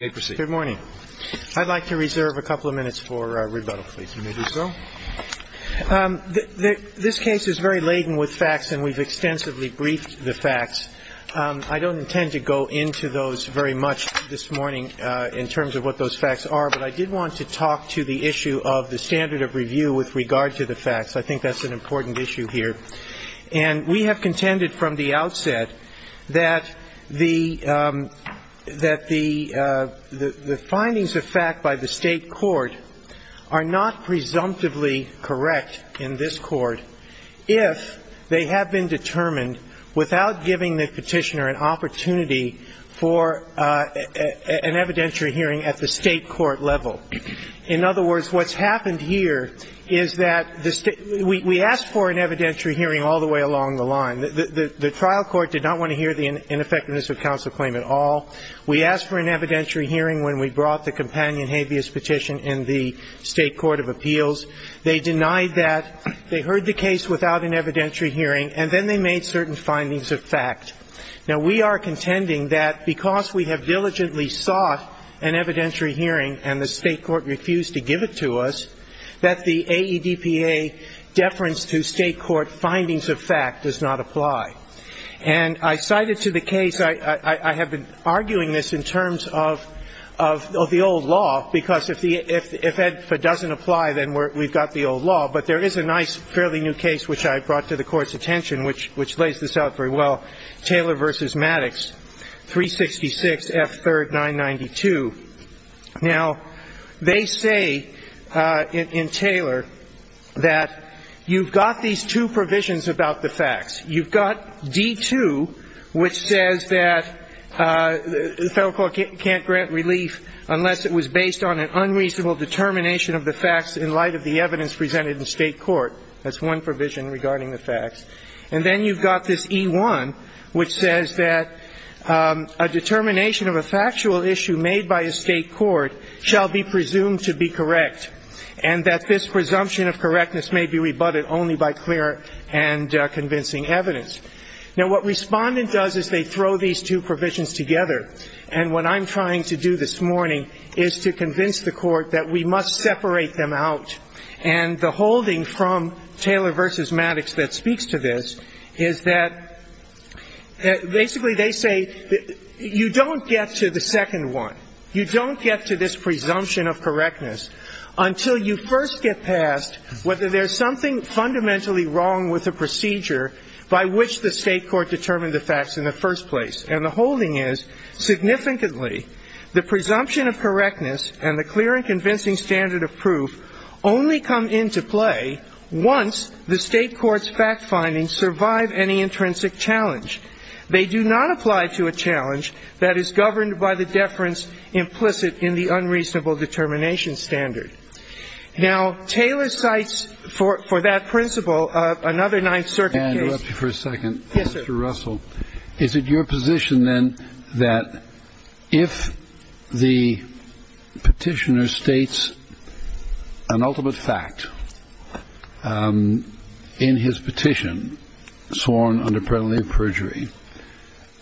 Good morning. I'd like to reserve a couple of minutes for rebuttal, please. This case is very laden with facts, and we've extensively briefed the facts. I don't intend to go into those very much this morning in terms of what those facts are, but I did want to talk to the issue of the standard of review with regard to the facts. I think that's an important issue here. And we have contended from the outset that the findings of fact by the State court are not presumptively correct in this court if they have been determined without giving the petitioner an opportunity for an evidentiary hearing at the State court level. In other words, what's happened here is that the State – we asked for an evidentiary hearing all the way along the line. The trial court did not want to hear the ineffectiveness of counsel claim at all. We asked for an evidentiary hearing when we brought the companion habeas petition in the State court of appeals. They denied that. They heard the case without an evidentiary hearing, and then they made certain findings of fact. Now, we are contending that because we have diligently sought an evidentiary hearing and the State court refused to give it to us, that the AEDPA deference to State court findings of fact does not apply. And I cited to the case – I have been arguing this in terms of the old law, because if it doesn't apply, then we've got the old law. But there is a nice, fairly new case which I brought to the Court's attention, which lays this out very well, Taylor v. Maddox, 366 F. 3rd, 992. Now, they say in Taylor that you've got these two provisions about the facts. You've got D. 2, which says that the Federal Court can't grant relief unless it was based on an unreasonable determination of the facts in light of the evidence presented in State court. That's one provision regarding the facts. And then you've got this E. 1, which says that a determination of a factual issue made by a State court shall be presumed to be correct, and that this presumption of correctness may be rebutted only by clear and convincing evidence. Now, what Respondent does is they throw these two provisions together, and what I'm trying to do this morning is to convince the Court that we must separate them out. And the holding from Taylor v. Maddox that speaks to this is that basically they say you don't get to the second one, you don't get to this presumption of correctness until you first get past whether there's something fundamentally wrong with the procedure by which the State court determined the facts in the first place. And the holding is, significantly, the presumption of correctness and the clear and convincing standard of proof only come into play once the State court's fact findings survive any intrinsic challenge. They do not apply to a challenge that is governed by the deference implicit in the unreasonable determination standard. Now, Taylor cites for that principle another Ninth Circuit case. Mr. Russell, is it your position, then, that if the Petitioner states an ultimate fact in his petition sworn under penalty of perjury,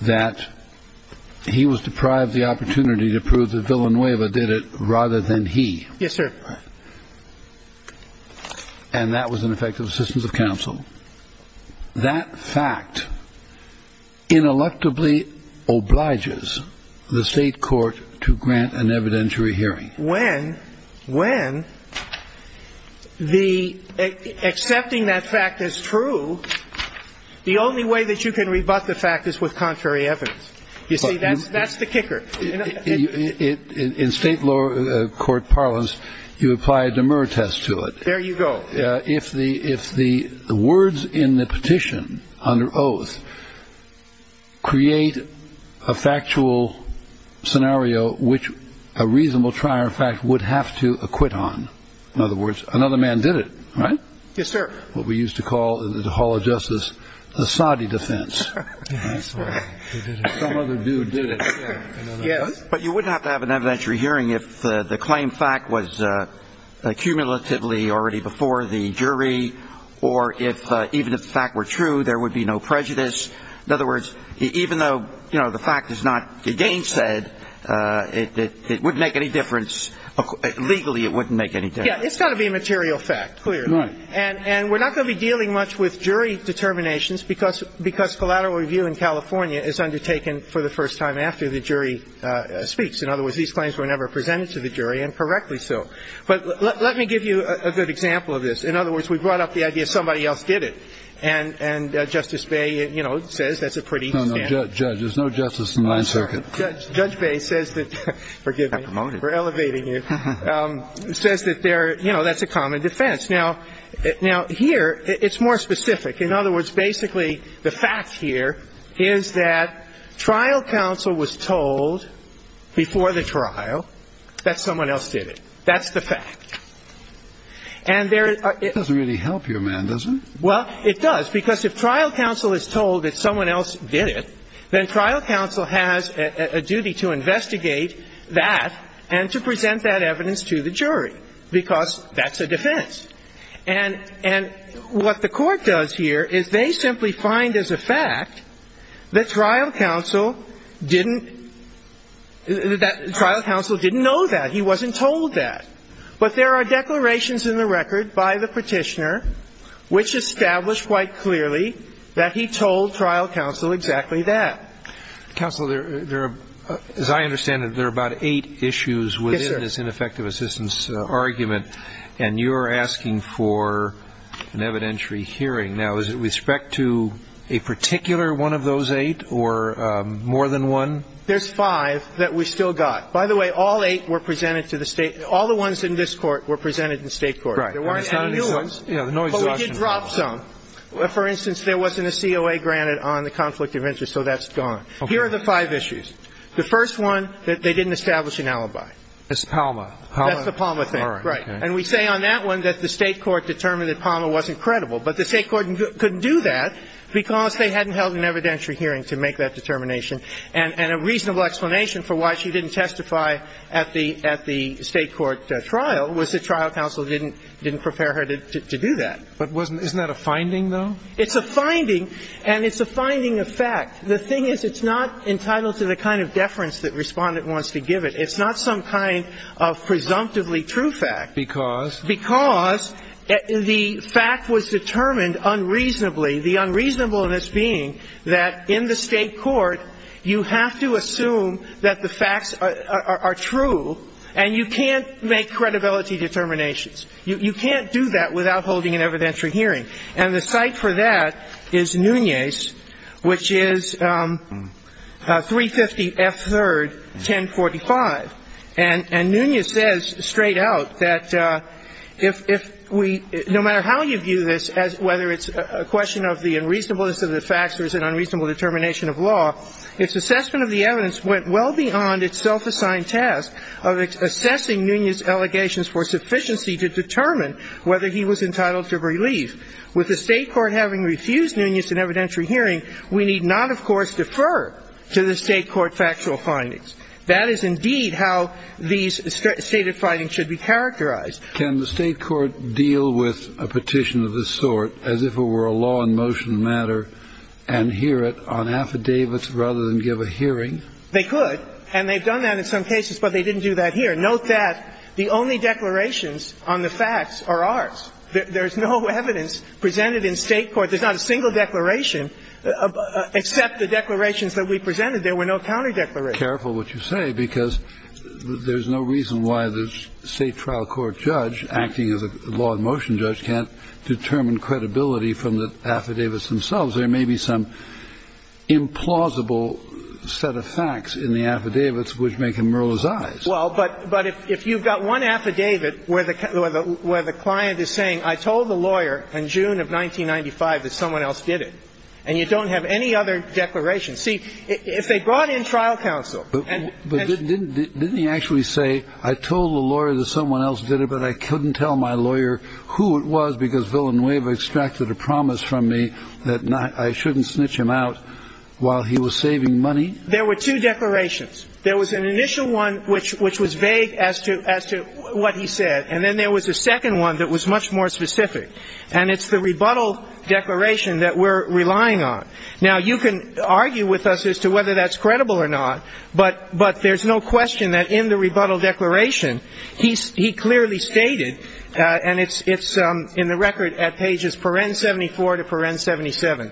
that he was deprived the opportunity to prove that Villanueva did it rather than he? Yes, sir. And that was an effect of assistance of counsel. That fact ineluctably obliges the State court to grant an evidentiary hearing. When the accepting that fact is true, the only way that you can rebut the fact is with contrary evidence. You see, that's the kicker. In State court parlance, you apply a demerit test to it. There you go. If the words in the petition under oath create a factual scenario which a reasonable trier of fact would have to acquit on, in other words, another man did it, right? Yes, sir. What we used to call in the Hall of Justice the Saudi defense. But you wouldn't have to have an evidentiary hearing if the claim fact was cumulatively already before the jury, or even if the fact were true, there would be no prejudice. In other words, even though the fact is not again said, it wouldn't make any difference. Legally, it wouldn't make any difference. Yeah, it's got to be a material fact, clearly. Right. And we're not going to be dealing much with jury determinations because collateral review in California is undertaken for the first time after the jury speaks. In other words, these claims were never presented to the jury, and correctly so. But let me give you a good example of this. In other words, we brought up the idea somebody else did it. And Justice Bay, you know, says that's a pretty standard. No, no, Judge, there's no justice in my circuit. Judge Bay says that, forgive me for elevating you, says that they're, you know, that's a common defense. Now, here it's more specific. In other words, basically the fact here is that trial counsel was told before the trial that someone else did it. That's the fact. And there is a It doesn't really help you, man, does it? Well, it does. Because if trial counsel is told that someone else did it, then trial counsel has a duty to investigate that and to present that evidence to the jury because that's a defense. And what the Court does here is they simply find as a fact that trial counsel didn't – that trial counsel didn't know that. He wasn't told that. But there are declarations in the record by the Petitioner which establish quite clearly that he told trial counsel exactly that. Counsel, there are – as I understand it, there are about eight issues within this ineffective assistance argument. And you're asking for an evidentiary hearing. Now, is it with respect to a particular one of those eight or more than one? There's five that we still got. By the way, all eight were presented to the State – all the ones in this Court were presented to the State Court. Right. There weren't any new ones. But we did drop some. For instance, there wasn't a COA granted on the conflict of interest, so that's gone. Okay. Here are the five issues. The first one, that they didn't establish an alibi. It's Palma. That's the Palma thing. All right. Right. And we say on that one that the State court determined that Palma wasn't credible. But the State court couldn't do that because they hadn't held an evidentiary hearing to make that determination. And a reasonable explanation for why she didn't testify at the State court trial was the trial counsel didn't prepare her to do that. But wasn't – isn't that a finding, though? It's a finding. And it's a finding of fact. The thing is it's not entitled to the kind of deference that Respondent wants to give it. It's not some kind of presumptively true fact. Because? Because the fact was determined unreasonably, the unreasonableness being that in the State court, you have to assume that the facts are true, and you can't make credibility determinations. You can't do that without holding an evidentiary hearing. And the site for that is Nunez, which is 350 F. 3rd, 1045. And Nunez says straight out that if we – no matter how you view this, whether it's a question of the unreasonableness of the facts or it's an unreasonable determination of law, its assessment of the evidence went well beyond its self-assigned task of assessing Nunez's allegations for sufficiency to determine whether he was entitled to relief. With the State court having refused Nunez an evidentiary hearing, we need not, of course, defer to the State court factual findings. That is indeed how these stated findings should be characterized. Can the State court deal with a petition of this sort as if it were a law in motion matter and hear it on affidavits rather than give a hearing? They could. And they've done that in some cases, but they didn't do that here. Note that the only declarations on the facts are ours. There's no evidence presented in State court. There's not a single declaration except the declarations that we presented. There were no counter-declarations. Careful what you say, because there's no reason why the State trial court judge acting as a law in motion judge can't determine credibility from the affidavits themselves. There may be some implausible set of facts in the affidavits which make him mirror his eyes. Well, but if you've got one affidavit where the client is saying, I told the lawyer in June of 1995 that someone else did it, and you don't have any other declaration. See, if they brought in trial counsel and ---- But didn't he actually say, I told the lawyer that someone else did it, but I couldn't tell my lawyer who it was because Villanueva extracted a promise from me that I shouldn't snitch him out while he was saving money? There were two declarations. There was an initial one which was vague as to what he said, and then there was a second one that was much more specific. And it's the rebuttal declaration that we're relying on. Now, you can argue with us as to whether that's credible or not, but there's no question that in the rebuttal declaration he clearly stated, and it's in the record at pages paren 74 to paren 77,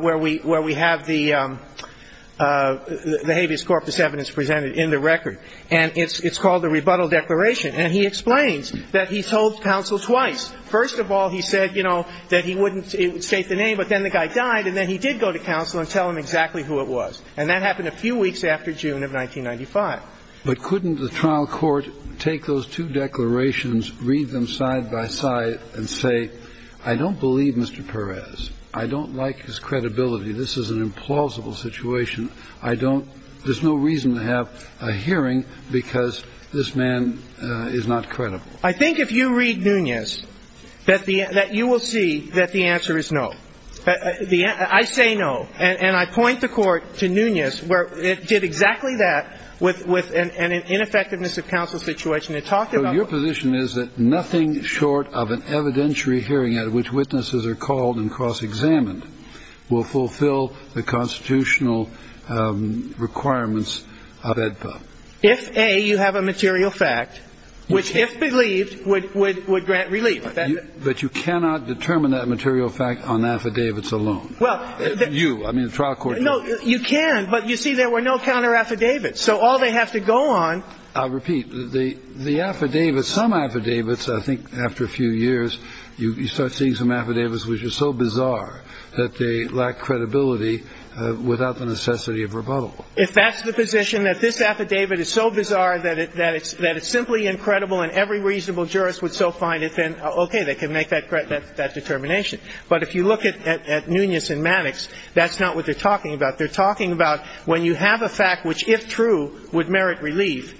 where we have the habeas corpus evidence presented in the record. And it's called the rebuttal declaration. And he explains that he told counsel twice. First of all, he said, you know, that he wouldn't state the name, but then the guy died and then he did go to counsel and tell him exactly who it was. And that happened a few weeks after June of 1995. But couldn't the trial court take those two declarations, read them side by side, and say, I don't believe Mr. Perez. I don't like his credibility. This is an implausible situation. There's no reason to have a hearing because this man is not credible. I think if you read Nunez that you will see that the answer is no. I say no. And I point the court to Nunez where it did exactly that with an ineffectiveness of counsel situation. It talked about the law. So your position is that nothing short of an evidentiary hearing at which witnesses are called and cross-examined will fulfill the constitutional requirements of AEDPA? If, A, you have a material fact, which if believed would grant relief. But you cannot determine that material fact on affidavits alone. Well, you. I mean, the trial court. No, you can. But you see, there were no counter-affidavits. So all they have to go on. I'll repeat. The affidavits, some affidavits, I think after a few years, you start seeing some affidavits which are so bizarre that they lack credibility without the necessity of rebuttal. If that's the position, that this affidavit is so bizarre that it's simply incredible and every reasonable jurist would so find it, then okay, they can make that determination. But if you look at Nunez and Maddox, that's not what they're talking about. They're talking about when you have a fact which, if true, would merit relief,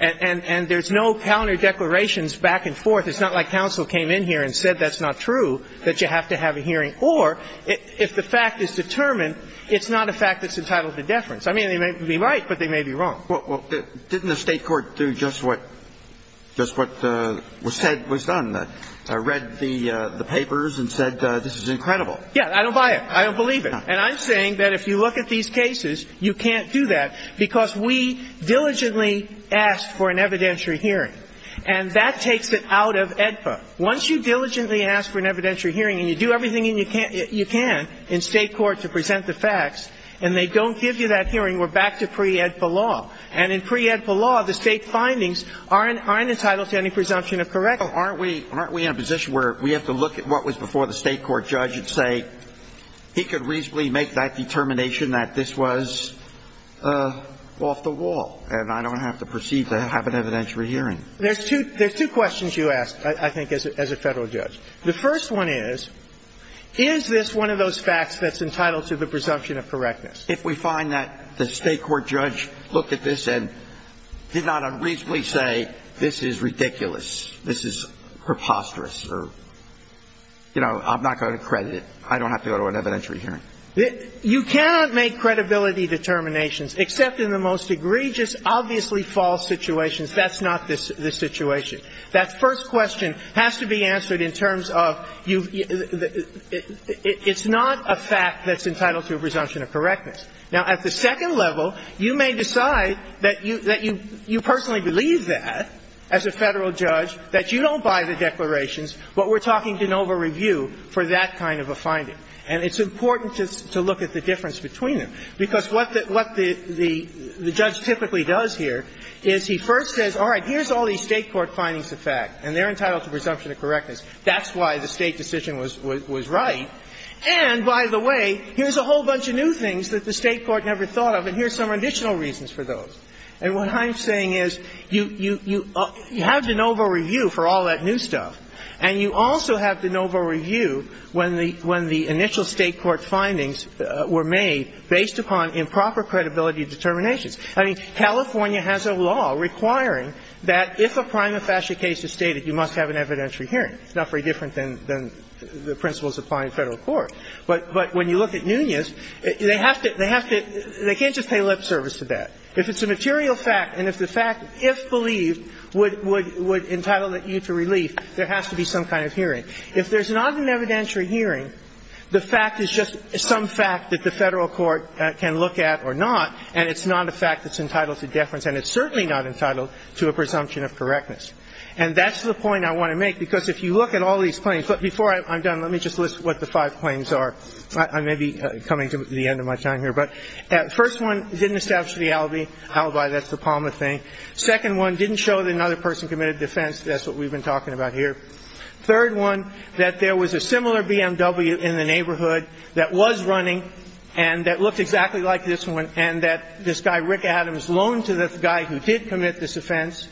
and there's no counter-declarations back and forth, it's not like counsel came in here and said that's not true, that you have to have a hearing. Or if the fact is determined, it's not a fact that's entitled to deference. I mean, they may be right, but they may be wrong. Well, didn't the State court do just what was said was done? Read the papers and said this is incredible. Yeah, I don't buy it. I don't believe it. And I'm saying that if you look at these cases, you can't do that because we diligently ask for an evidentiary hearing. And that takes it out of AEDPA. Once you diligently ask for an evidentiary hearing and you do everything you can in State court to present the facts and they don't give you that hearing, we're back to pre-AEDPA law. And in pre-AEDPA law, the State findings aren't entitled to any presumption of correctness. Aren't we in a position where we have to look at what was before the State court judge and say he could reasonably make that determination that this was off the wall and I don't have to proceed to have an evidentiary hearing? There's two questions you ask, I think, as a Federal judge. The first one is, is this one of those facts that's entitled to the presumption of correctness? If we find that the State court judge looked at this and did not unreasonably say this is ridiculous, this is preposterous or, you know, I'm not going to credit it, I don't have to go to an evidentiary hearing. You cannot make credibility determinations except in the most egregious, obviously false situations. That's not the situation. That first question has to be answered in terms of you've – it's not a fact that's entitled to a presumption of correctness. Now, at the second level, you may decide that you personally believe that, as a Federal judge, that you don't buy the declarations, but we're talking de novo review for that kind of a finding. And it's important to look at the difference between them, because what the judge typically does here is he first says, all right, here's all these State court findings of fact, and they're entitled to presumption of correctness. That's why the State decision was right. And by the way, here's a whole bunch of new things that the State court never thought of, and here's some additional reasons for those. And what I'm saying is you have de novo review for all that new stuff, and you also have de novo review when the initial State court findings were made based upon improper credibility determinations. I mean, California has a law requiring that if a prima facie case is stated, you must have an evidentiary hearing. It's not very different than the principles applied in Federal court. But when you look at Nunez, they have to – they have to – they can't just pay lip service to that. If it's a material fact and if the fact, if believed, would entitle you to relief, there has to be some kind of hearing. If there's not an evidentiary hearing, the fact is just some fact that the Federal court can look at or not, and it's not a fact that's entitled to deference, and it's certainly not entitled to a presumption of correctness. And that's the point I want to make, because if you look at all these claims – but before I'm done, let me just list what the five claims are. I may be coming to the end of my time here. But first one, didn't establish the alibi. That's the Palmer thing. Second one, didn't show that another person committed offense. That's what we've been talking about here. Third one, that there was a similar BMW in the neighborhood that was running and that looked exactly like this one, and that this guy, Rick Adams, loaned to this guy who did commit this offense.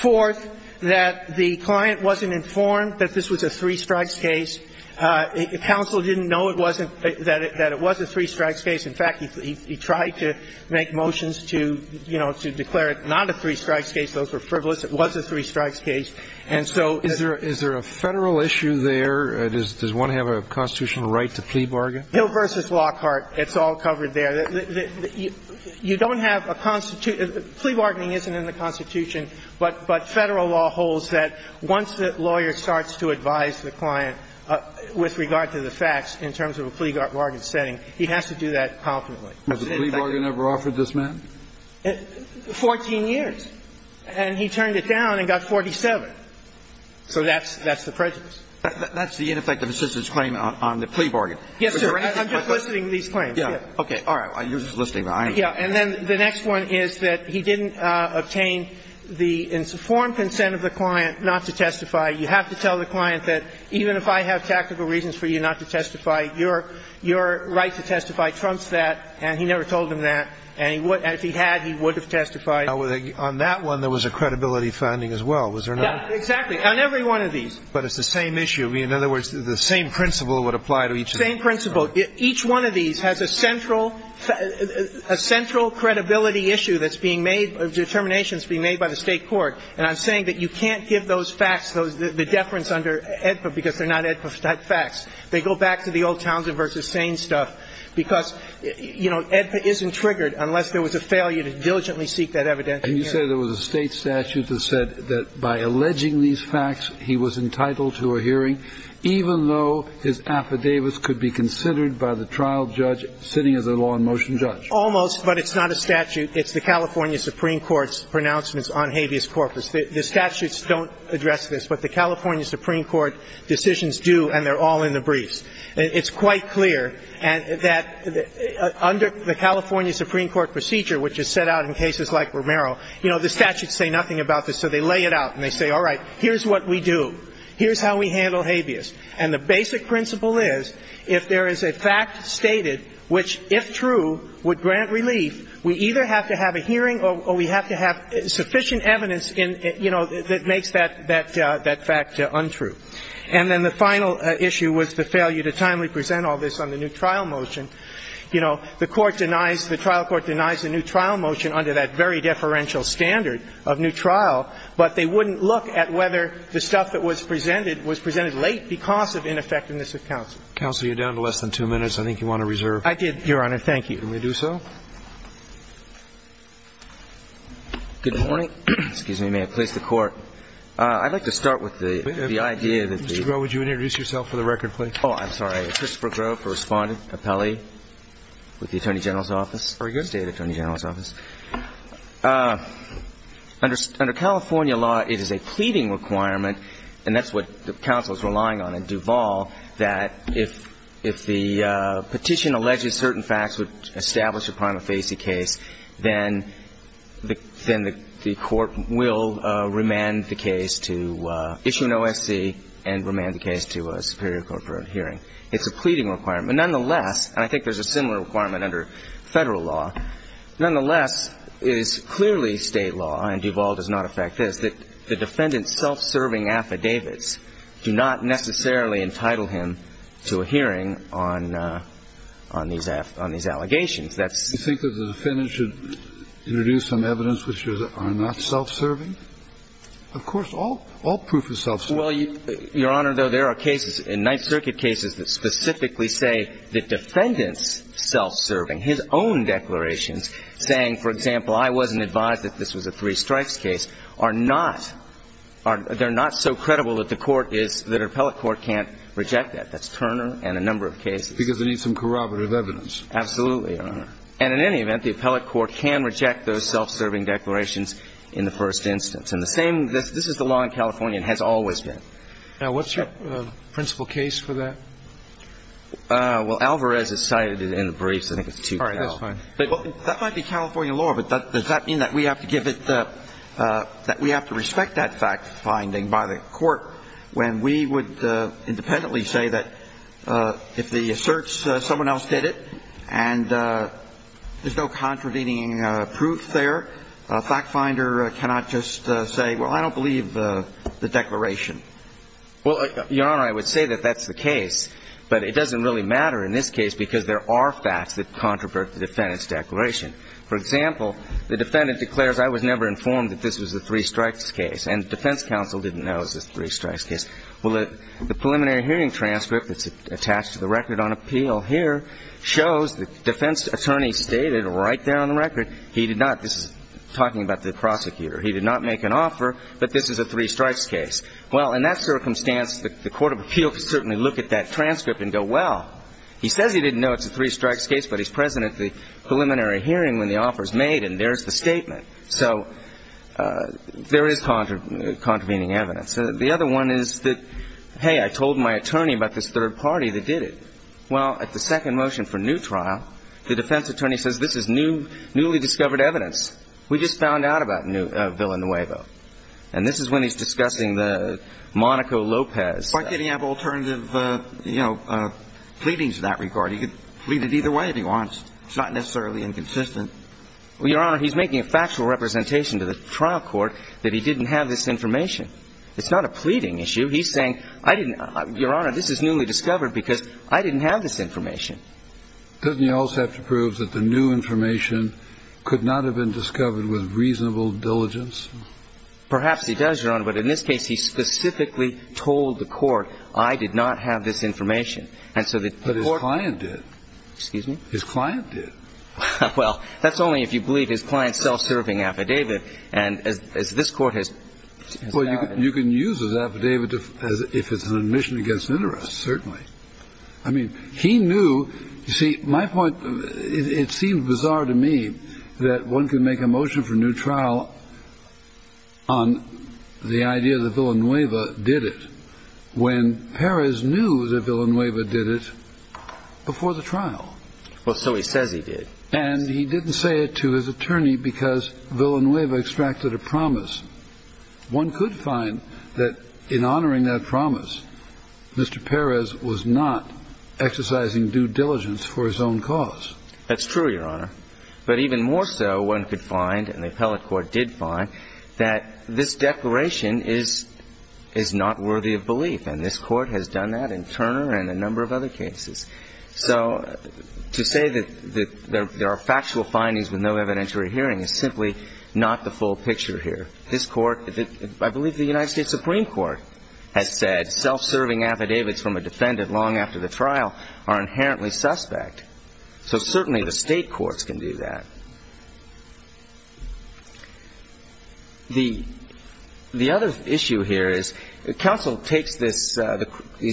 Fourth, that the client wasn't informed that this was a three-strikes case. Counsel didn't know it wasn't – that it was a three-strikes case. In fact, he tried to make motions to, you know, to declare it not a three-strikes case. Those were frivolous. It was a three-strikes case. And so the – Is there a Federal issue there? Does one have a constitutional right to plea bargain? Hill v. Lockhart, it's all covered there. You don't have a – plea bargaining isn't in the Constitution, but Federal law holds that once the lawyer starts to advise the client with regard to the facts in terms of a plea bargain setting, he has to do that confidently. Was a plea bargain ever offered this man? 14 years. And he turned it down and got 47. So that's the prejudice. That's the ineffective assistance claim on the plea bargain. Yes, sir. I'm just listing these claims. Okay. All right. You're just listing mine. Yeah. And then the next one is that he didn't obtain the informed consent of the client not to testify. You have to tell the client that even if I have tactical reasons for you not to testify, your right to testify trumps that, and he never told him that. And if he had, he would have testified. On that one, there was a credibility finding as well, was there not? Yeah, exactly. On every one of these. But it's the same issue. In other words, the same principle would apply to each of them. Same principle. Each one of these has a central credibility issue that's being made, a determination that's being made by the State court. And I'm saying that you can't give those facts, the deference under AEDPA because they're not AEDPA-type facts. They go back to the old Townsend v. Sane stuff because, you know, AEDPA isn't triggered unless there was a failure to diligently seek that evidence. And you say there was a State statute that said that by alleging these facts, he was considered by the trial judge sitting as a law and motion judge. Almost, but it's not a statute. It's the California Supreme Court's pronouncements on habeas corpus. The statutes don't address this, but the California Supreme Court decisions do, and they're all in the briefs. It's quite clear that under the California Supreme Court procedure, which is set out in cases like Romero, you know, the statutes say nothing about this. So they lay it out and they say, all right, here's what we do. Here's how we handle habeas. And the basic principle is, if there is a fact stated which, if true, would grant relief, we either have to have a hearing or we have to have sufficient evidence in, you know, that makes that fact untrue. And then the final issue was the failure to timely present all this on the new trial motion. You know, the court denies, the trial court denies the new trial motion under that very deferential standard of new trial, but they wouldn't look at whether the stuff that was presented was presented late because of ineffectiveness of counsel. Counsel, you're down to less than two minutes. I think you want to reserve. I did, Your Honor. Thank you. Can we do so? Good morning. Excuse me. May I please the Court? I'd like to start with the idea that the ---- Mr. Groh, would you introduce yourself for the record, please? Oh, I'm sorry. Very good. State Attorney General's Office. Under California law, it is a pleading requirement, and that's what the counsel is relying on in Duval, that if the petition alleges certain facts would establish a prima facie case, then the court will remand the case to issue an OSC and remand the case to a superior court for a hearing. It's a pleading requirement. Nonetheless, and I think there's a similar requirement under Federal law, nonetheless, it is clearly State law, and Duval does not affect this, that the defendant's self-serving affidavits do not necessarily entitle him to a hearing on these allegations. That's ---- You think that the defendant should introduce some evidence which are not self-serving? Of course, all proof is self-serving. Well, Your Honor, though, there are cases in Ninth Circuit cases that specifically say the defendant's self-serving, his own declarations, saying, for example, I wasn't advised that this was a three-strikes case, are not ---- they're not so credible that the court is ---- that an appellate court can't reject that. That's Turner and a number of cases. Because they need some corroborative evidence. Absolutely, Your Honor. And in any event, the appellate court can reject those self-serving declarations in the first instance. And the same ---- this is the law in California and has always been. Now, what's your principal case for that? Well, Alvarez has cited it in the briefs. I think it's too ---- All right. That's fine. That might be California law, but does that mean that we have to give it the ---- that we have to respect that fact-finding by the court when we would independently say that if the asserts someone else did it and there's no contravening proof there, a fact-finder cannot just say, well, I don't believe the declaration. Well, Your Honor, I would say that that's the case, but it doesn't really matter in this case because there are facts that controvert the defendant's declaration. For example, the defendant declares, I was never informed that this was a three-strikes case, and the defense counsel didn't know it was a three-strikes case. Well, the preliminary hearing transcript that's attached to the record on appeal here shows the defense attorney stated right there on the record he did not ---- this is talking about the prosecutor. He did not make an offer that this is a three-strikes case. Well, in that circumstance, the court of appeal could certainly look at that transcript and go, well, he says he didn't know it's a three-strikes case, but he's present at the preliminary hearing when the offer is made, and there's the statement. So there is contravening evidence. The other one is that, hey, I told my attorney about this third party that did it. Well, at the second motion for new trial, the defense attorney says this is newly discovered evidence. We just found out about Villanueva. And this is when he's discussing the Monaco-Lopez. Why can't he have alternative, you know, pleadings in that regard? He could plead it either way if he wants. It's not necessarily inconsistent. Well, Your Honor, he's making a factual representation to the trial court that he didn't have this information. It's not a pleading issue. He's saying, I didn't ---- Your Honor, this is newly discovered because I didn't have this information. Doesn't he also have to prove that the new information could not have been discovered with reasonable diligence? Perhaps he does, Your Honor. But in this case, he specifically told the court, I did not have this information. And so the court ---- But his client did. Excuse me? His client did. Well, that's only if you believe his client's self-serving affidavit. And as this Court has ---- Well, you can use his affidavit if it's an admission against interest, certainly. I mean, he knew. You see, my point, it seems bizarre to me that one can make a motion for new trial on the idea that Villanueva did it when Perez knew that Villanueva did it before the trial. Well, so he says he did. And he didn't say it to his attorney because Villanueva extracted a promise. One could find that in honoring that promise, Mr. Perez was not exercising due diligence for his own cause. That's true, Your Honor. But even more so, one could find, and the appellate court did find, that this declaration is not worthy of belief. And this Court has done that in Turner and a number of other cases. So to say that there are factual findings with no evidentiary hearing is simply not the full picture here. This Court ---- I believe the United States Supreme Court has said self-serving affidavits from a defendant long after the trial are inherently suspect. So certainly the State courts can do that. The other issue here is counsel takes these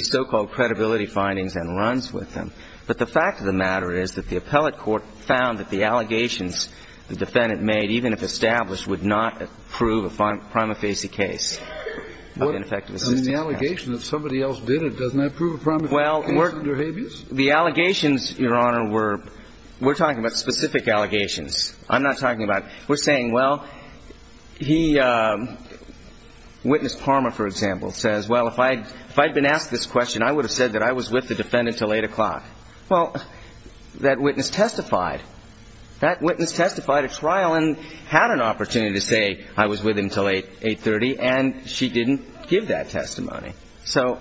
so-called credibility findings and runs with them. But the fact of the matter is that the appellate court found that the allegations the defendant made, even if established, would not prove a prima facie case of ineffective assistance. Well, the allegations, Your Honor, were ---- we're talking about specific allegations. I'm not talking about ---- we're saying, well, he ---- witness Parma, for example, says, well, if I had been asked this question, I would have said that I was with the defendant until 8 o'clock. Well, that witness testified. That witness testified at trial and had an opportunity to say I was with him until 830, and she didn't give that testimony. So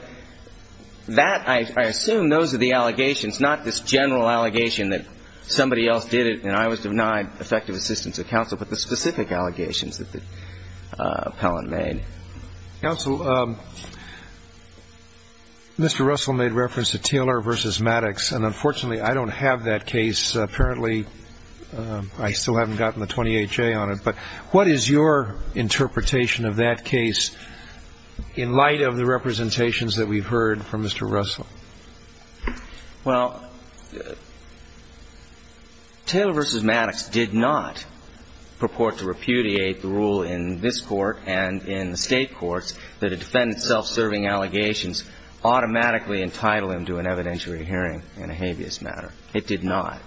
that, I assume, those are the allegations, not this general allegation that somebody else did it and I was denied effective assistance at counsel, but the specific allegations that the appellant made. Counsel, Mr. Russell made reference to Taylor v. Maddox, and unfortunately I don't have that case. Apparently I still haven't gotten the 28-J on it. But what is your interpretation of that case in light of the representations that we've heard from Mr. Russell? Well, Taylor v. Maddox did not purport to repudiate the rule in this Court and in the State courts that a defendant self-serving allegations automatically entitle him to an evidentiary hearing in a habeas matter. It did not.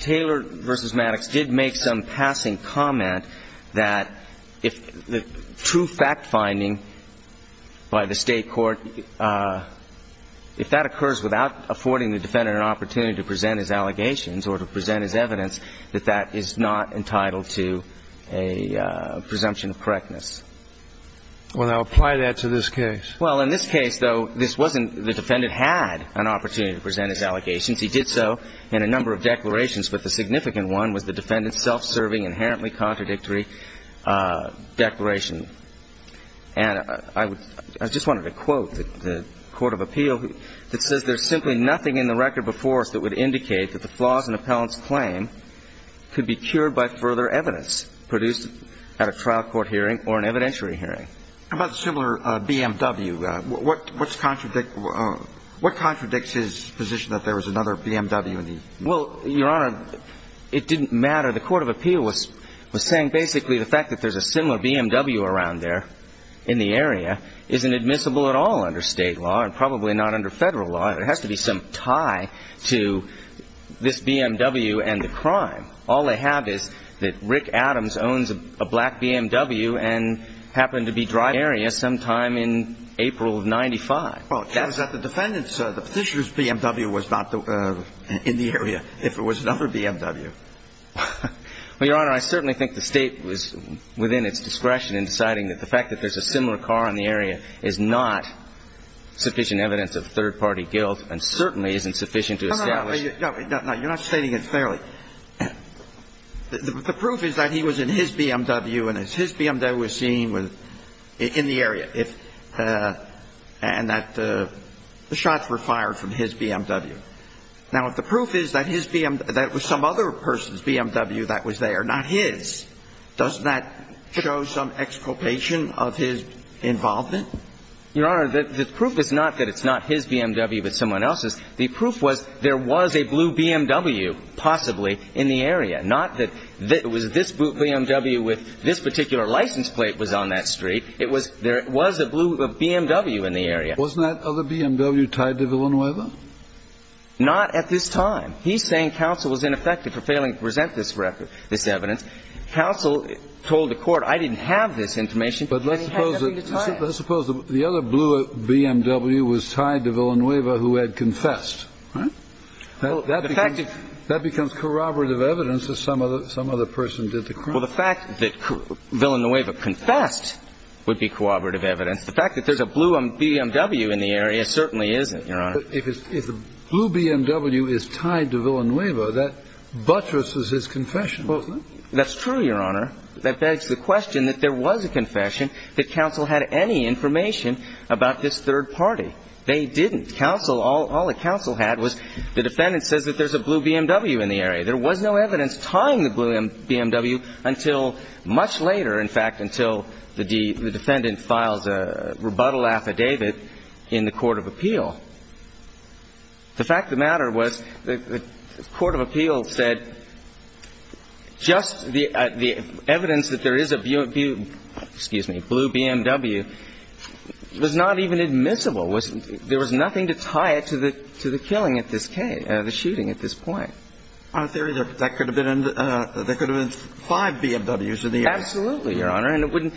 Taylor v. Maddox did make some passing comment that if the true fact finding by the State court, if that occurs without affording the defendant an opportunity to present his allegations or to present his evidence, that that is not entitled to a presumption of correctness. Well, now apply that to this case. Well, in this case, though, this wasn't the defendant had an opportunity to present his allegations. He did so in a number of declarations, but the significant one was the defendant self-serving inherently contradictory declaration. And I just wanted to quote the Court of Appeal that says there's simply nothing in the record before us that would indicate that the flaws in an appellant's claim could be cured by further evidence produced at a trial court hearing or an evidentiary hearing. How about a similar BMW? What contradicts his position that there was another BMW? Well, Your Honor, it didn't matter. The Court of Appeal was saying basically the fact that there's a similar BMW around there in the area isn't admissible at all under State law and probably not under Federal law. It has to be some tie to this BMW and the crime. All they have is that Rick Adams owns a black BMW and happened to be driving in the area sometime in April of 95. Well, it shows that the defendant's, the petitioner's BMW was not in the area if it was another BMW. Well, Your Honor, I certainly think the State was within its discretion in deciding that the fact that there's a similar car in the area is not sufficient evidence of third-party guilt and certainly isn't sufficient to establish. No, no, no. You're not stating it fairly. The proof is that he was in his BMW and his BMW was seen in the area and that the shots were fired from his BMW. Now, if the proof is that his BMW, that it was some other person's BMW that was there, not his, does that show some exculpation of his involvement? Your Honor, the proof is not that it's not his BMW but someone else's. Not that it was this BMW with this particular license plate was on that street. It was there was a blue BMW in the area. Wasn't that other BMW tied to Villanueva? Not at this time. He's saying counsel was ineffective for failing to present this record, this evidence. Counsel told the court I didn't have this information and he had nothing to tie it. But let's suppose the other blue BMW was tied to Villanueva who had confessed. That becomes corroborative evidence that some other person did the crime. Well, the fact that Villanueva confessed would be corroborative evidence. The fact that there's a blue BMW in the area certainly isn't, Your Honor. If the blue BMW is tied to Villanueva, that buttresses his confession, doesn't it? That's true, Your Honor. That begs the question that there was a confession, that counsel had any information about this third party. They didn't. Counsel, all that counsel had was the defendant says that there's a blue BMW in the area. There was no evidence tying the blue BMW until much later, in fact, until the defendant files a rebuttal affidavit in the court of appeal. The fact of the matter was the court of appeal said just the evidence that there is a blue BMW was not even admissible. There was nothing to tie it to the killing at this case, the shooting at this point. In theory, there could have been five BMWs in the area. Absolutely, Your Honor. And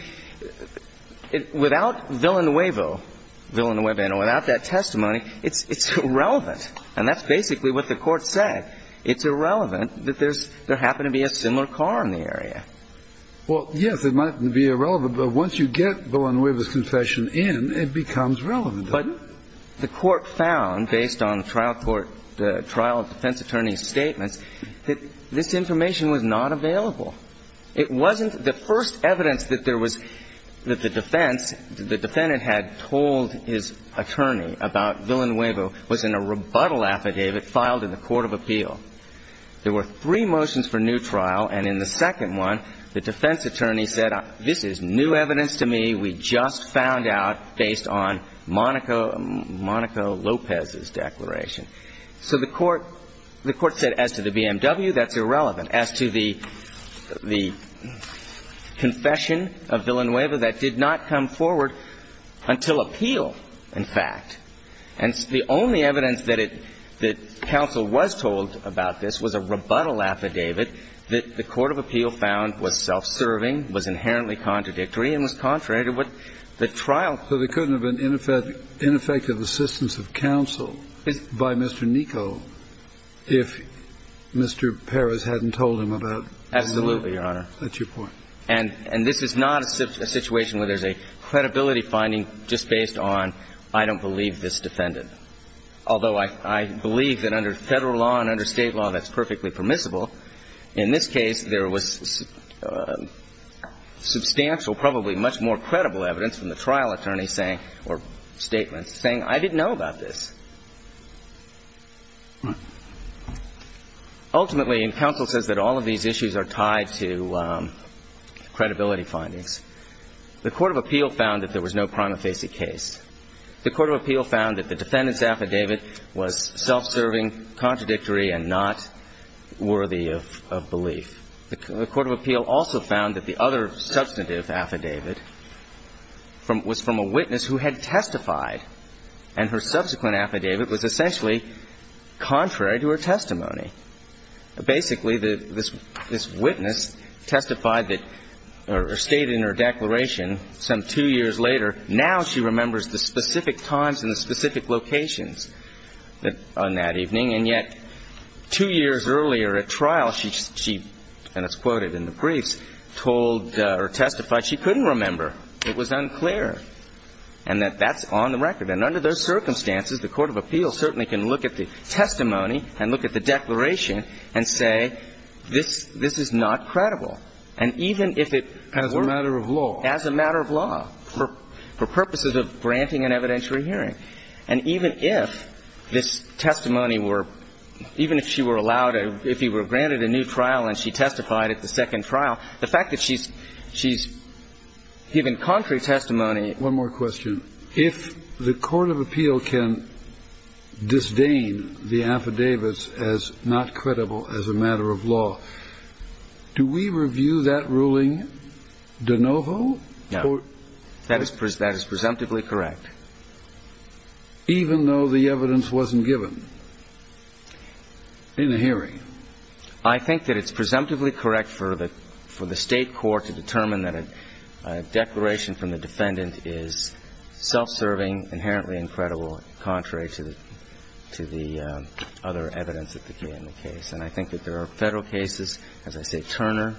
without Villanueva, and without that testimony, it's irrelevant. And that's basically what the court said. It's irrelevant that there happened to be a similar car in the area. Well, yes, it might be irrelevant, but once you get Villanueva's confession in, it becomes relevant. But the court found, based on the trial court, the trial defense attorney's statements, that this information was not available. It wasn't the first evidence that there was, that the defense, the defendant had told his attorney about Villanueva was in a rebuttal affidavit filed in the court of appeal. There were three motions for new trial. And in the second one, the defense attorney said, this is new evidence to me. We just found out based on Monica Lopez's declaration. So the court said, as to the BMW, that's irrelevant. As to the confession of Villanueva, that did not come forward until appeal, in fact. And the only evidence that it, that counsel was told about this was a rebuttal affidavit that the court of appeal found was self-serving, was inherently contradictory, and was contrary to what the trial. So there couldn't have been ineffective assistance of counsel by Mr. Nico if Mr. Perez hadn't told him about Villanueva. Absolutely, Your Honor. That's your point. And this is not a situation where there's a credibility finding just based on I don't believe this defendant. Although I believe that under federal law and under state law, that's perfectly permissible. In this case, there was substantial, probably much more credible evidence from the trial attorney saying, or statement saying, I didn't know about this. Ultimately, and counsel says that all of these issues are tied to credibility findings, the court of appeal found that there was no prima facie case. The court of appeal found that the defendant's affidavit was self-serving, contradictory, and not worthy of belief. The court of appeal also found that the other substantive affidavit was from a witness who had testified, and her subsequent affidavit was essentially contrary to her testimony. Basically, this witness testified that, or stated in her declaration some two years later, now she remembers the specific times and the specific locations on that evening. And yet, two years earlier at trial, she, and it's quoted in the briefs, told or testified she couldn't remember. It was unclear. And that that's on the record. And under those circumstances, the court of appeal certainly can look at the testimony and look at the declaration and say, this is not credible. And even if it weren't. As a matter of law. As a matter of law. For purposes of granting an evidentiary hearing. And even if this testimony were, even if she were allowed, if you were granted a new trial and she testified at the second trial, the fact that she's given contrary testimony. One more question. If the court of appeal can disdain the affidavits as not credible as a matter of law, do we review that ruling de novo? No. That is presumptively correct. Even though the evidence wasn't given. In the hearing. I think that it's presumptively correct for the state court to determine that a declaration from the defendant is self-serving, inherently incredible, contrary to the other evidence that became the case. And I think that there are Federal cases, as I say, Turner,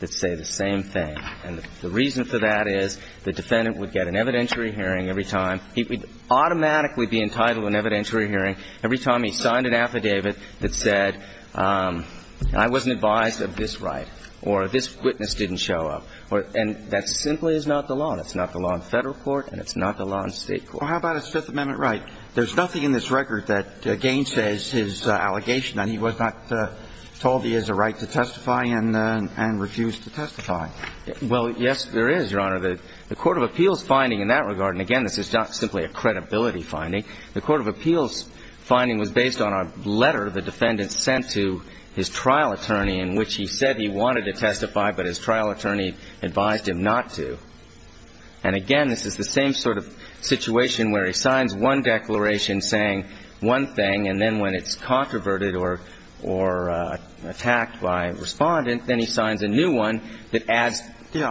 that say the same thing. And the reason for that is the defendant would get an evidentiary hearing every time. He would automatically be entitled to an evidentiary hearing every time he signed an affidavit that said, I wasn't advised of this right. Or this witness didn't show up. And that simply is not the law. That's not the law in Federal court and it's not the law in State court. Well, how about a Fifth Amendment right? There's nothing in this record that gainsays his allegation that he was not told he has a right to testify and refused to testify. Well, yes, there is, Your Honor. The court of appeals finding in that regard, and again, this is not simply a credibility finding, the court of appeals finding was based on a letter the defendant sent to his trial attorney in which he said he wanted to testify but his trial attorney advised him not to. And again, this is the same sort of situation where he signs one declaration saying one thing and then when it's controverted or attacked by a Respondent, then he signs a new one that adds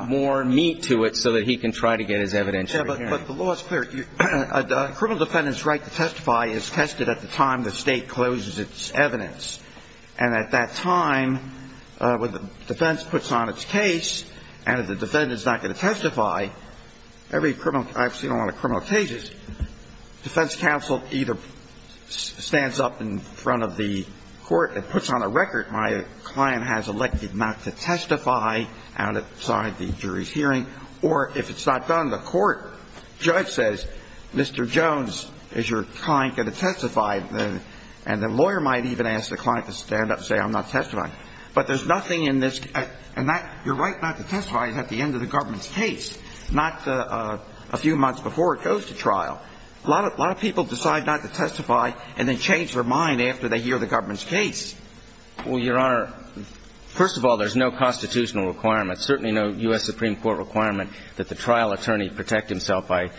more meat to it so that he can try to get his evidentiary hearing. But the law is clear. A criminal defendant's right to testify is tested at the time the State closes its evidence. And at that time, when the defense puts on its case and the defendant is not going to testify, every criminal – I've seen a lot of criminal cases, defense counsel either stands up in front of the court and puts on a record, my client has elected not to testify outside the jury's hearing, or if it's not done, the court judge says, Mr. Jones, is your client going to testify? And the lawyer might even ask the client to stand up and say, I'm not testifying. But there's nothing in this – and that – your right not to testify is at the end of the government's case, not a few months before it goes to trial. A lot of people decide not to testify and then change their mind after they hear the government's case. Well, Your Honor, first of all, there's no constitutional requirement, certainly no U.S. Supreme Court requirement that the trial attorney protect himself by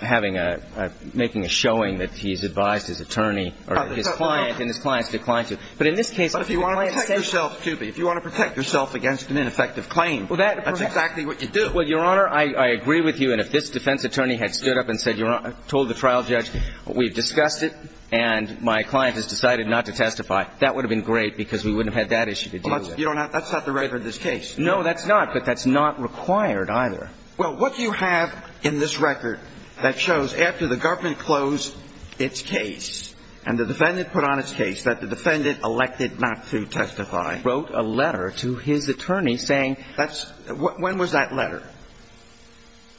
having a – making a showing that he's advised his attorney or his client and his client has declined to. But in this case, if your client says – But if you want to protect yourself, too, if you want to protect yourself against an ineffective claim. That's exactly what you do. Well, Your Honor, I agree with you. And if this defense attorney had stood up and said – told the trial judge, we've discussed it and my client has decided not to testify, that would have been great because we wouldn't have had that issue to deal with. Well, that's – you don't have – that's not the right of this case. No, that's not. But that's not required either. Well, what you have in this record that shows after the government closed its case and the defendant put on its case that the defendant elected not to testify. He wrote a letter to his attorney saying – That's – when was that letter?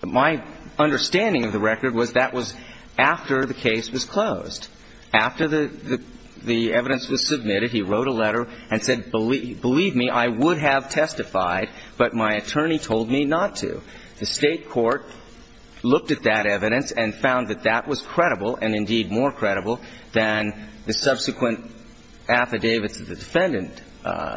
My understanding of the record was that was after the case was closed. After the evidence was submitted, he wrote a letter and said, believe me, I would have testified, but my attorney told me not to. The State court looked at that evidence and found that that was credible and indeed more credible than the subsequent affidavits that the defendant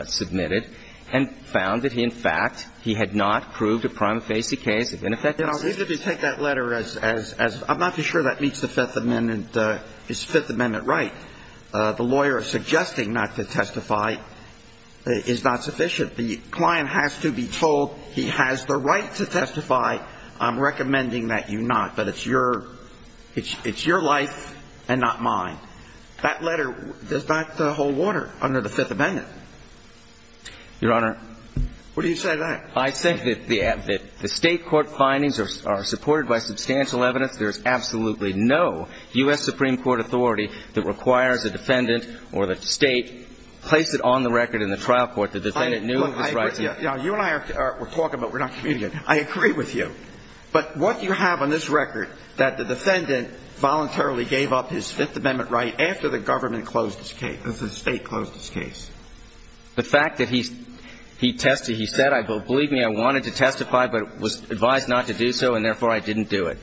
submitted and found that he, in fact, he had not proved a prima facie case of ineffectiveness. Now, if you take that letter as – I'm not too sure that meets the Fifth Amendment – is the Fifth Amendment right. The lawyer is suggesting not to testify is not sufficient. The client has to be told he has the right to testify. I'm recommending that you not. But it's your – it's your life and not mine. That letter does not hold water under the Fifth Amendment. Your Honor. What do you say to that? I say that the State court findings are supported by substantial evidence. There is absolutely no U.S. Supreme Court authority that requires a defendant or the State place it on the record in the trial court. The defendant knew of his rights. You and I are talking, but we're not communicating. I agree with you. But what do you have on this record that the defendant voluntarily gave up his Fifth Amendment right after the government closed his case – the State closed his case? The fact that he tested – he said, believe me, I wanted to testify but was advised not to do so and therefore I didn't do it.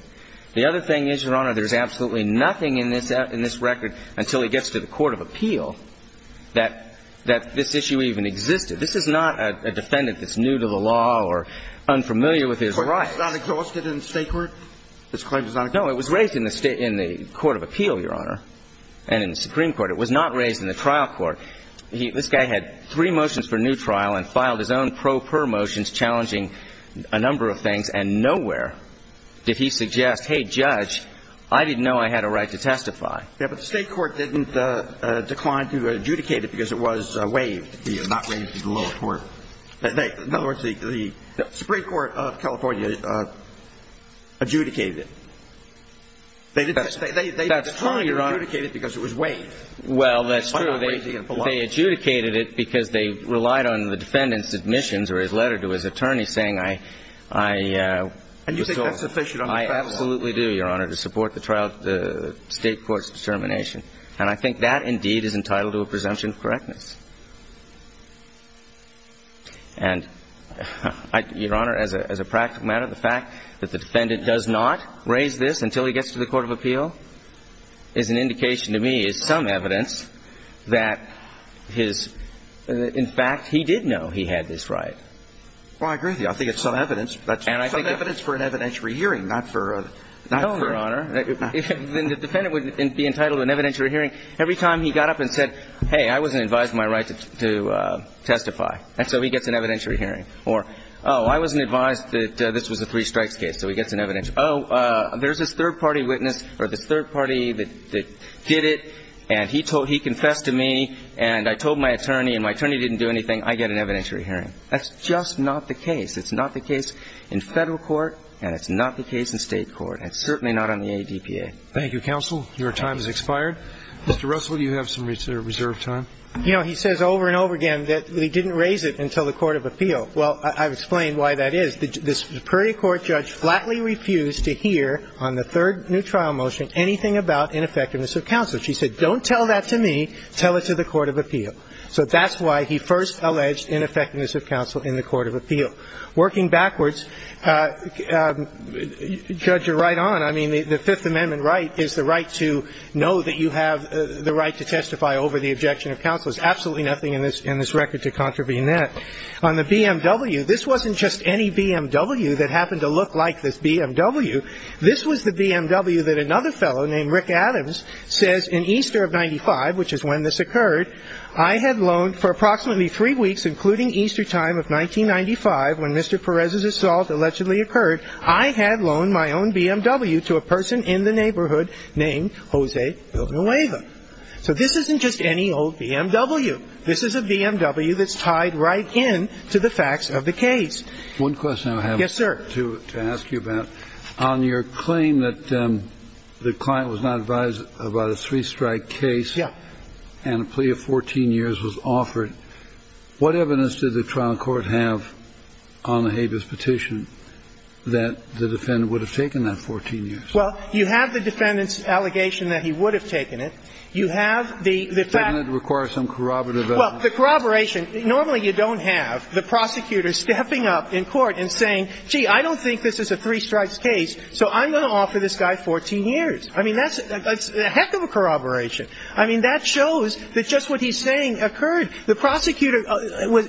The other thing is, Your Honor, there's absolutely nothing in this record until he gets to the court of appeal that this issue even existed. This is not a defendant that's new to the law or unfamiliar with his rights. But he's not exhausted in the State court? This claim is not exhausted? No. It was raised in the State – in the court of appeal, Your Honor, and in the Supreme Court. It was not raised in the trial court. He – this guy had three motions for new trial and filed his own pro per motions challenging a number of things, and nowhere did he suggest, hey, Judge, I didn't know I had a right to testify. Yeah, but the State court didn't decline to adjudicate it because it was waived. Well, that's true. They adjudicated it because they relied on the defendant's admissions or his letter to his attorney saying, I – I was told. And you think that's sufficient on the battle line? I absolutely do, Your Honor, to support the trial – the State court's determination. And I think that, indeed, is entitled to a presumption of correctness. Thank you. Thank you. Thank you. Thank you. Thank you. Thank you. Thank you. And, Your Honor, as a – as a practical matter, the fact that the defendant does not raise this until he gets to the court of appeal is an indication to me, is some evidence that his – in fact, he did know he had this right. Well, I agree with you. I think it's some evidence. That's some evidence for an evidentiary hearing, not for a – not for a... No, Your Honor. Then the defendant would be entitled to an evidentiary hearing every time he got up and said, hey, I wasn't advised my right to testify. And so he gets an evidentiary hearing. Or, oh, I wasn't advised that this was a three-strikes case, so he gets an evidentiary. Oh, there's this third-party witness, or this third-party that did it, and he told – he confessed to me, and I told my attorney, and my attorney didn't do anything. I get an evidentiary hearing. That's just not the case. It's not the case in Federal court, and it's not the case in State court. And it's certainly not on the ADPA. Thank you, Counsel. Your time has expired. Mr. Russell, do you have some reserve time? You know, he says over and over again that he didn't raise it until the court of appeal. Well, I've explained why that is. The Superior Court judge flatly refused to hear on the third new trial motion anything about ineffectiveness of counsel. She said, don't tell that to me. Tell it to the court of appeal. So that's why he first alleged ineffectiveness of counsel in the court of appeal. Working backwards, Judge, you're right on. I mean, the Fifth Amendment right is the right to know that you have the right to testify over the objection of counsel. There's absolutely nothing in this record to contravene that. On the BMW, this wasn't just any BMW that happened to look like this BMW. This was the BMW that another fellow named Rick Adams says in Easter of 95, which is when this occurred, I had loaned for approximately three weeks, including Easter time of 1995 when Mr. Perez's assault allegedly occurred, I had loaned my own BMW to a person in the neighborhood named Jose Villanueva. So this isn't just any old BMW. This is a BMW that's tied right in to the facts of the case. One question I have. Yes, sir. To ask you about. On your claim that the client was not advised about a three-strike case and a plea of 14 years was offered, what evidence did the trial court have on the habeas petition that the defendant would have taken that 14 years? Well, you have the defendant's allegation that he would have taken it. You have the fact. Doesn't it require some corroborative evidence? Well, the corroboration, normally you don't have the prosecutor stepping up in court and saying, gee, I don't think this is a three-strikes case, so I'm going to offer this guy 14 years. I mean, that's a heck of a corroboration. I mean, that shows that just what he's saying occurred. The prosecutor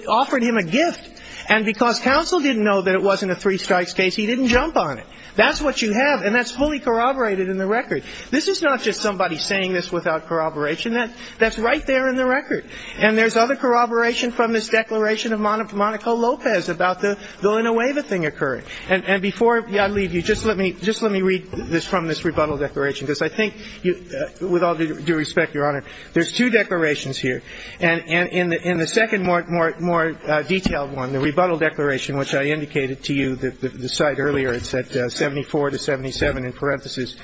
offered him a gift. And because counsel didn't know that it wasn't a three-strikes case, he didn't jump on it. That's what you have, and that's fully corroborated in the record. This is not just somebody saying this without corroboration. That's right there in the record. And there's other corroboration from this declaration of Monaco Lopez about the, though in a way the thing occurred. And before I leave you, just let me read this from this rebuttal declaration, because I think with all due respect, Your Honor, there's two declarations here. And in the second more detailed one, the rebuttal declaration, which I indicated to you, the site earlier, it's at 74 to 77 in parentheses.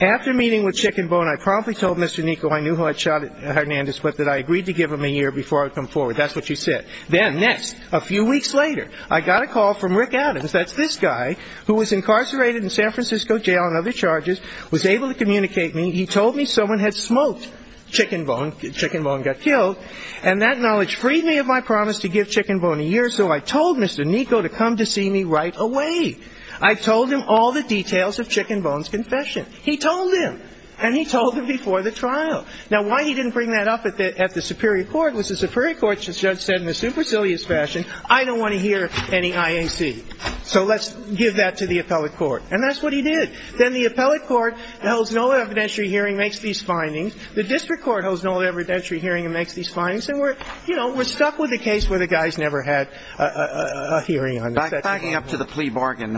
After meeting with Chickenbone, I promptly told Mr. Nico I knew who had shot Hernandez, but that I agreed to give him a year before I would come forward. That's what you said. Then next, a few weeks later, I got a call from Rick Adams, that's this guy, who was incarcerated in San Francisco jail and other charges, was able to communicate me. He told me someone had smoked Chickenbone. Chickenbone got killed. And that knowledge freed me of my promise to give Chickenbone a year, so I told Mr. Nico to come to see me right away. I told him all the details of Chickenbone's confession. He told him. And he told him before the trial. Now, why he didn't bring that up at the superior court was the superior court said in a supercilious fashion, I don't want to hear any IAC. So let's give that to the appellate court. And that's what he did. Then the appellate court holds no evidentiary hearing, makes these findings. The district court holds no evidentiary hearing and makes these findings. And, you know, we're stuck with a case where the guy's never had a hearing. Backing up to the plea bargain,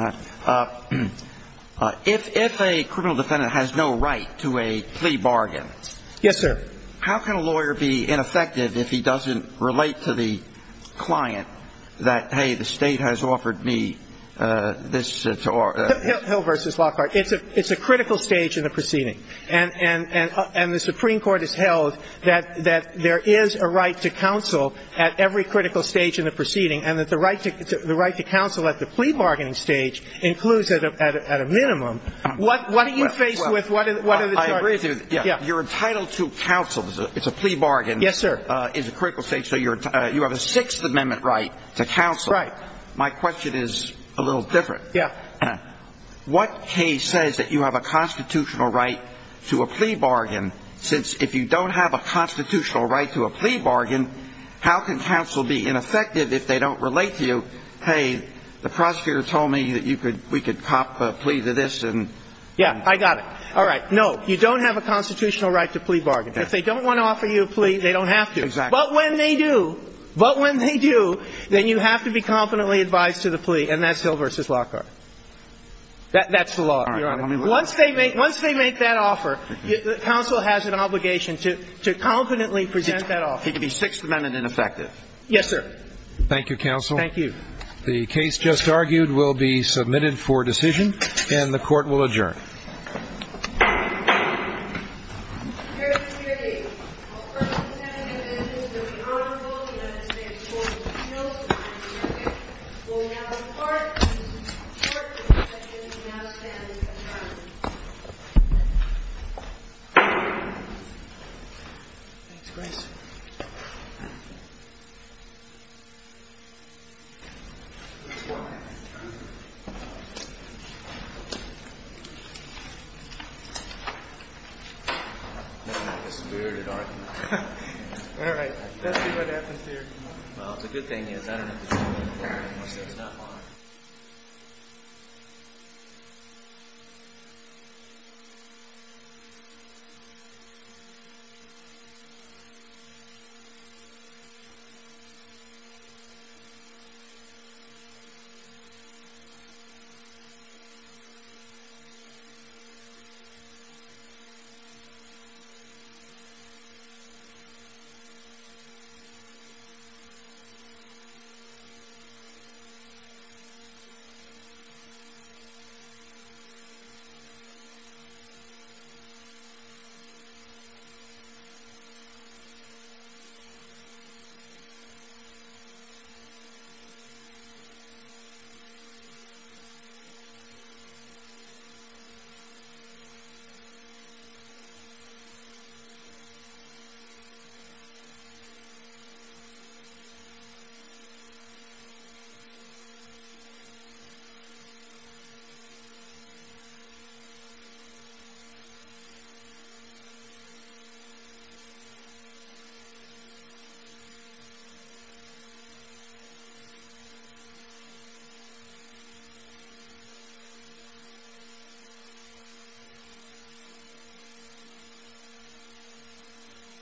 if a criminal defendant has no right to a plea bargain. Yes, sir. How can a lawyer be ineffective if he doesn't relate to the client that, hey, the State has offered me this? Hill v. Lockhart. It's a critical stage in the proceeding. And the Supreme Court has held that there is a right to counsel at every critical stage in the proceeding and that the right to counsel at the plea bargaining stage includes at a minimum. What are you faced with? What are the charges? I agree with you. You're entitled to counsel. It's a plea bargain. Yes, sir. It's a critical stage. So you have a Sixth Amendment right to counsel. Right. My question is a little different. Yeah. What case says that you have a constitutional right to a plea bargain since if you don't have a constitutional right to a plea bargain, how can counsel be ineffective if they don't relate to you? Hey, the prosecutor told me that you could – we could cop a plea to this and – Yeah, I got it. All right. No, you don't have a constitutional right to plea bargain. If they don't want to offer you a plea, they don't have to. Exactly. But when they do, but when they do, then you have to be competently advised to the plea. And that's Hill v. Lockhart. That's the law. All right. Once they make that offer, counsel has an obligation to competently present that offer. He could be Sixth Amendment ineffective. Yes, sir. Thank you, counsel. Thank you. The case just argued will be submitted for decision, and the Court will adjourn. Mr. Chairman, good evening. I'll first be sending a message to the Honorable United States Court of Appeals, and then the hearing will now depart. The Court will now stand adjourned. Thanks, Grace. Nothing like a spirited argument. All right. Let's see what happens here. Well, the good thing is, I don't have to tell you much. There's not a lot. Thank you. Thank you. Thank you. Thank you. Thank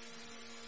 you. Thank you.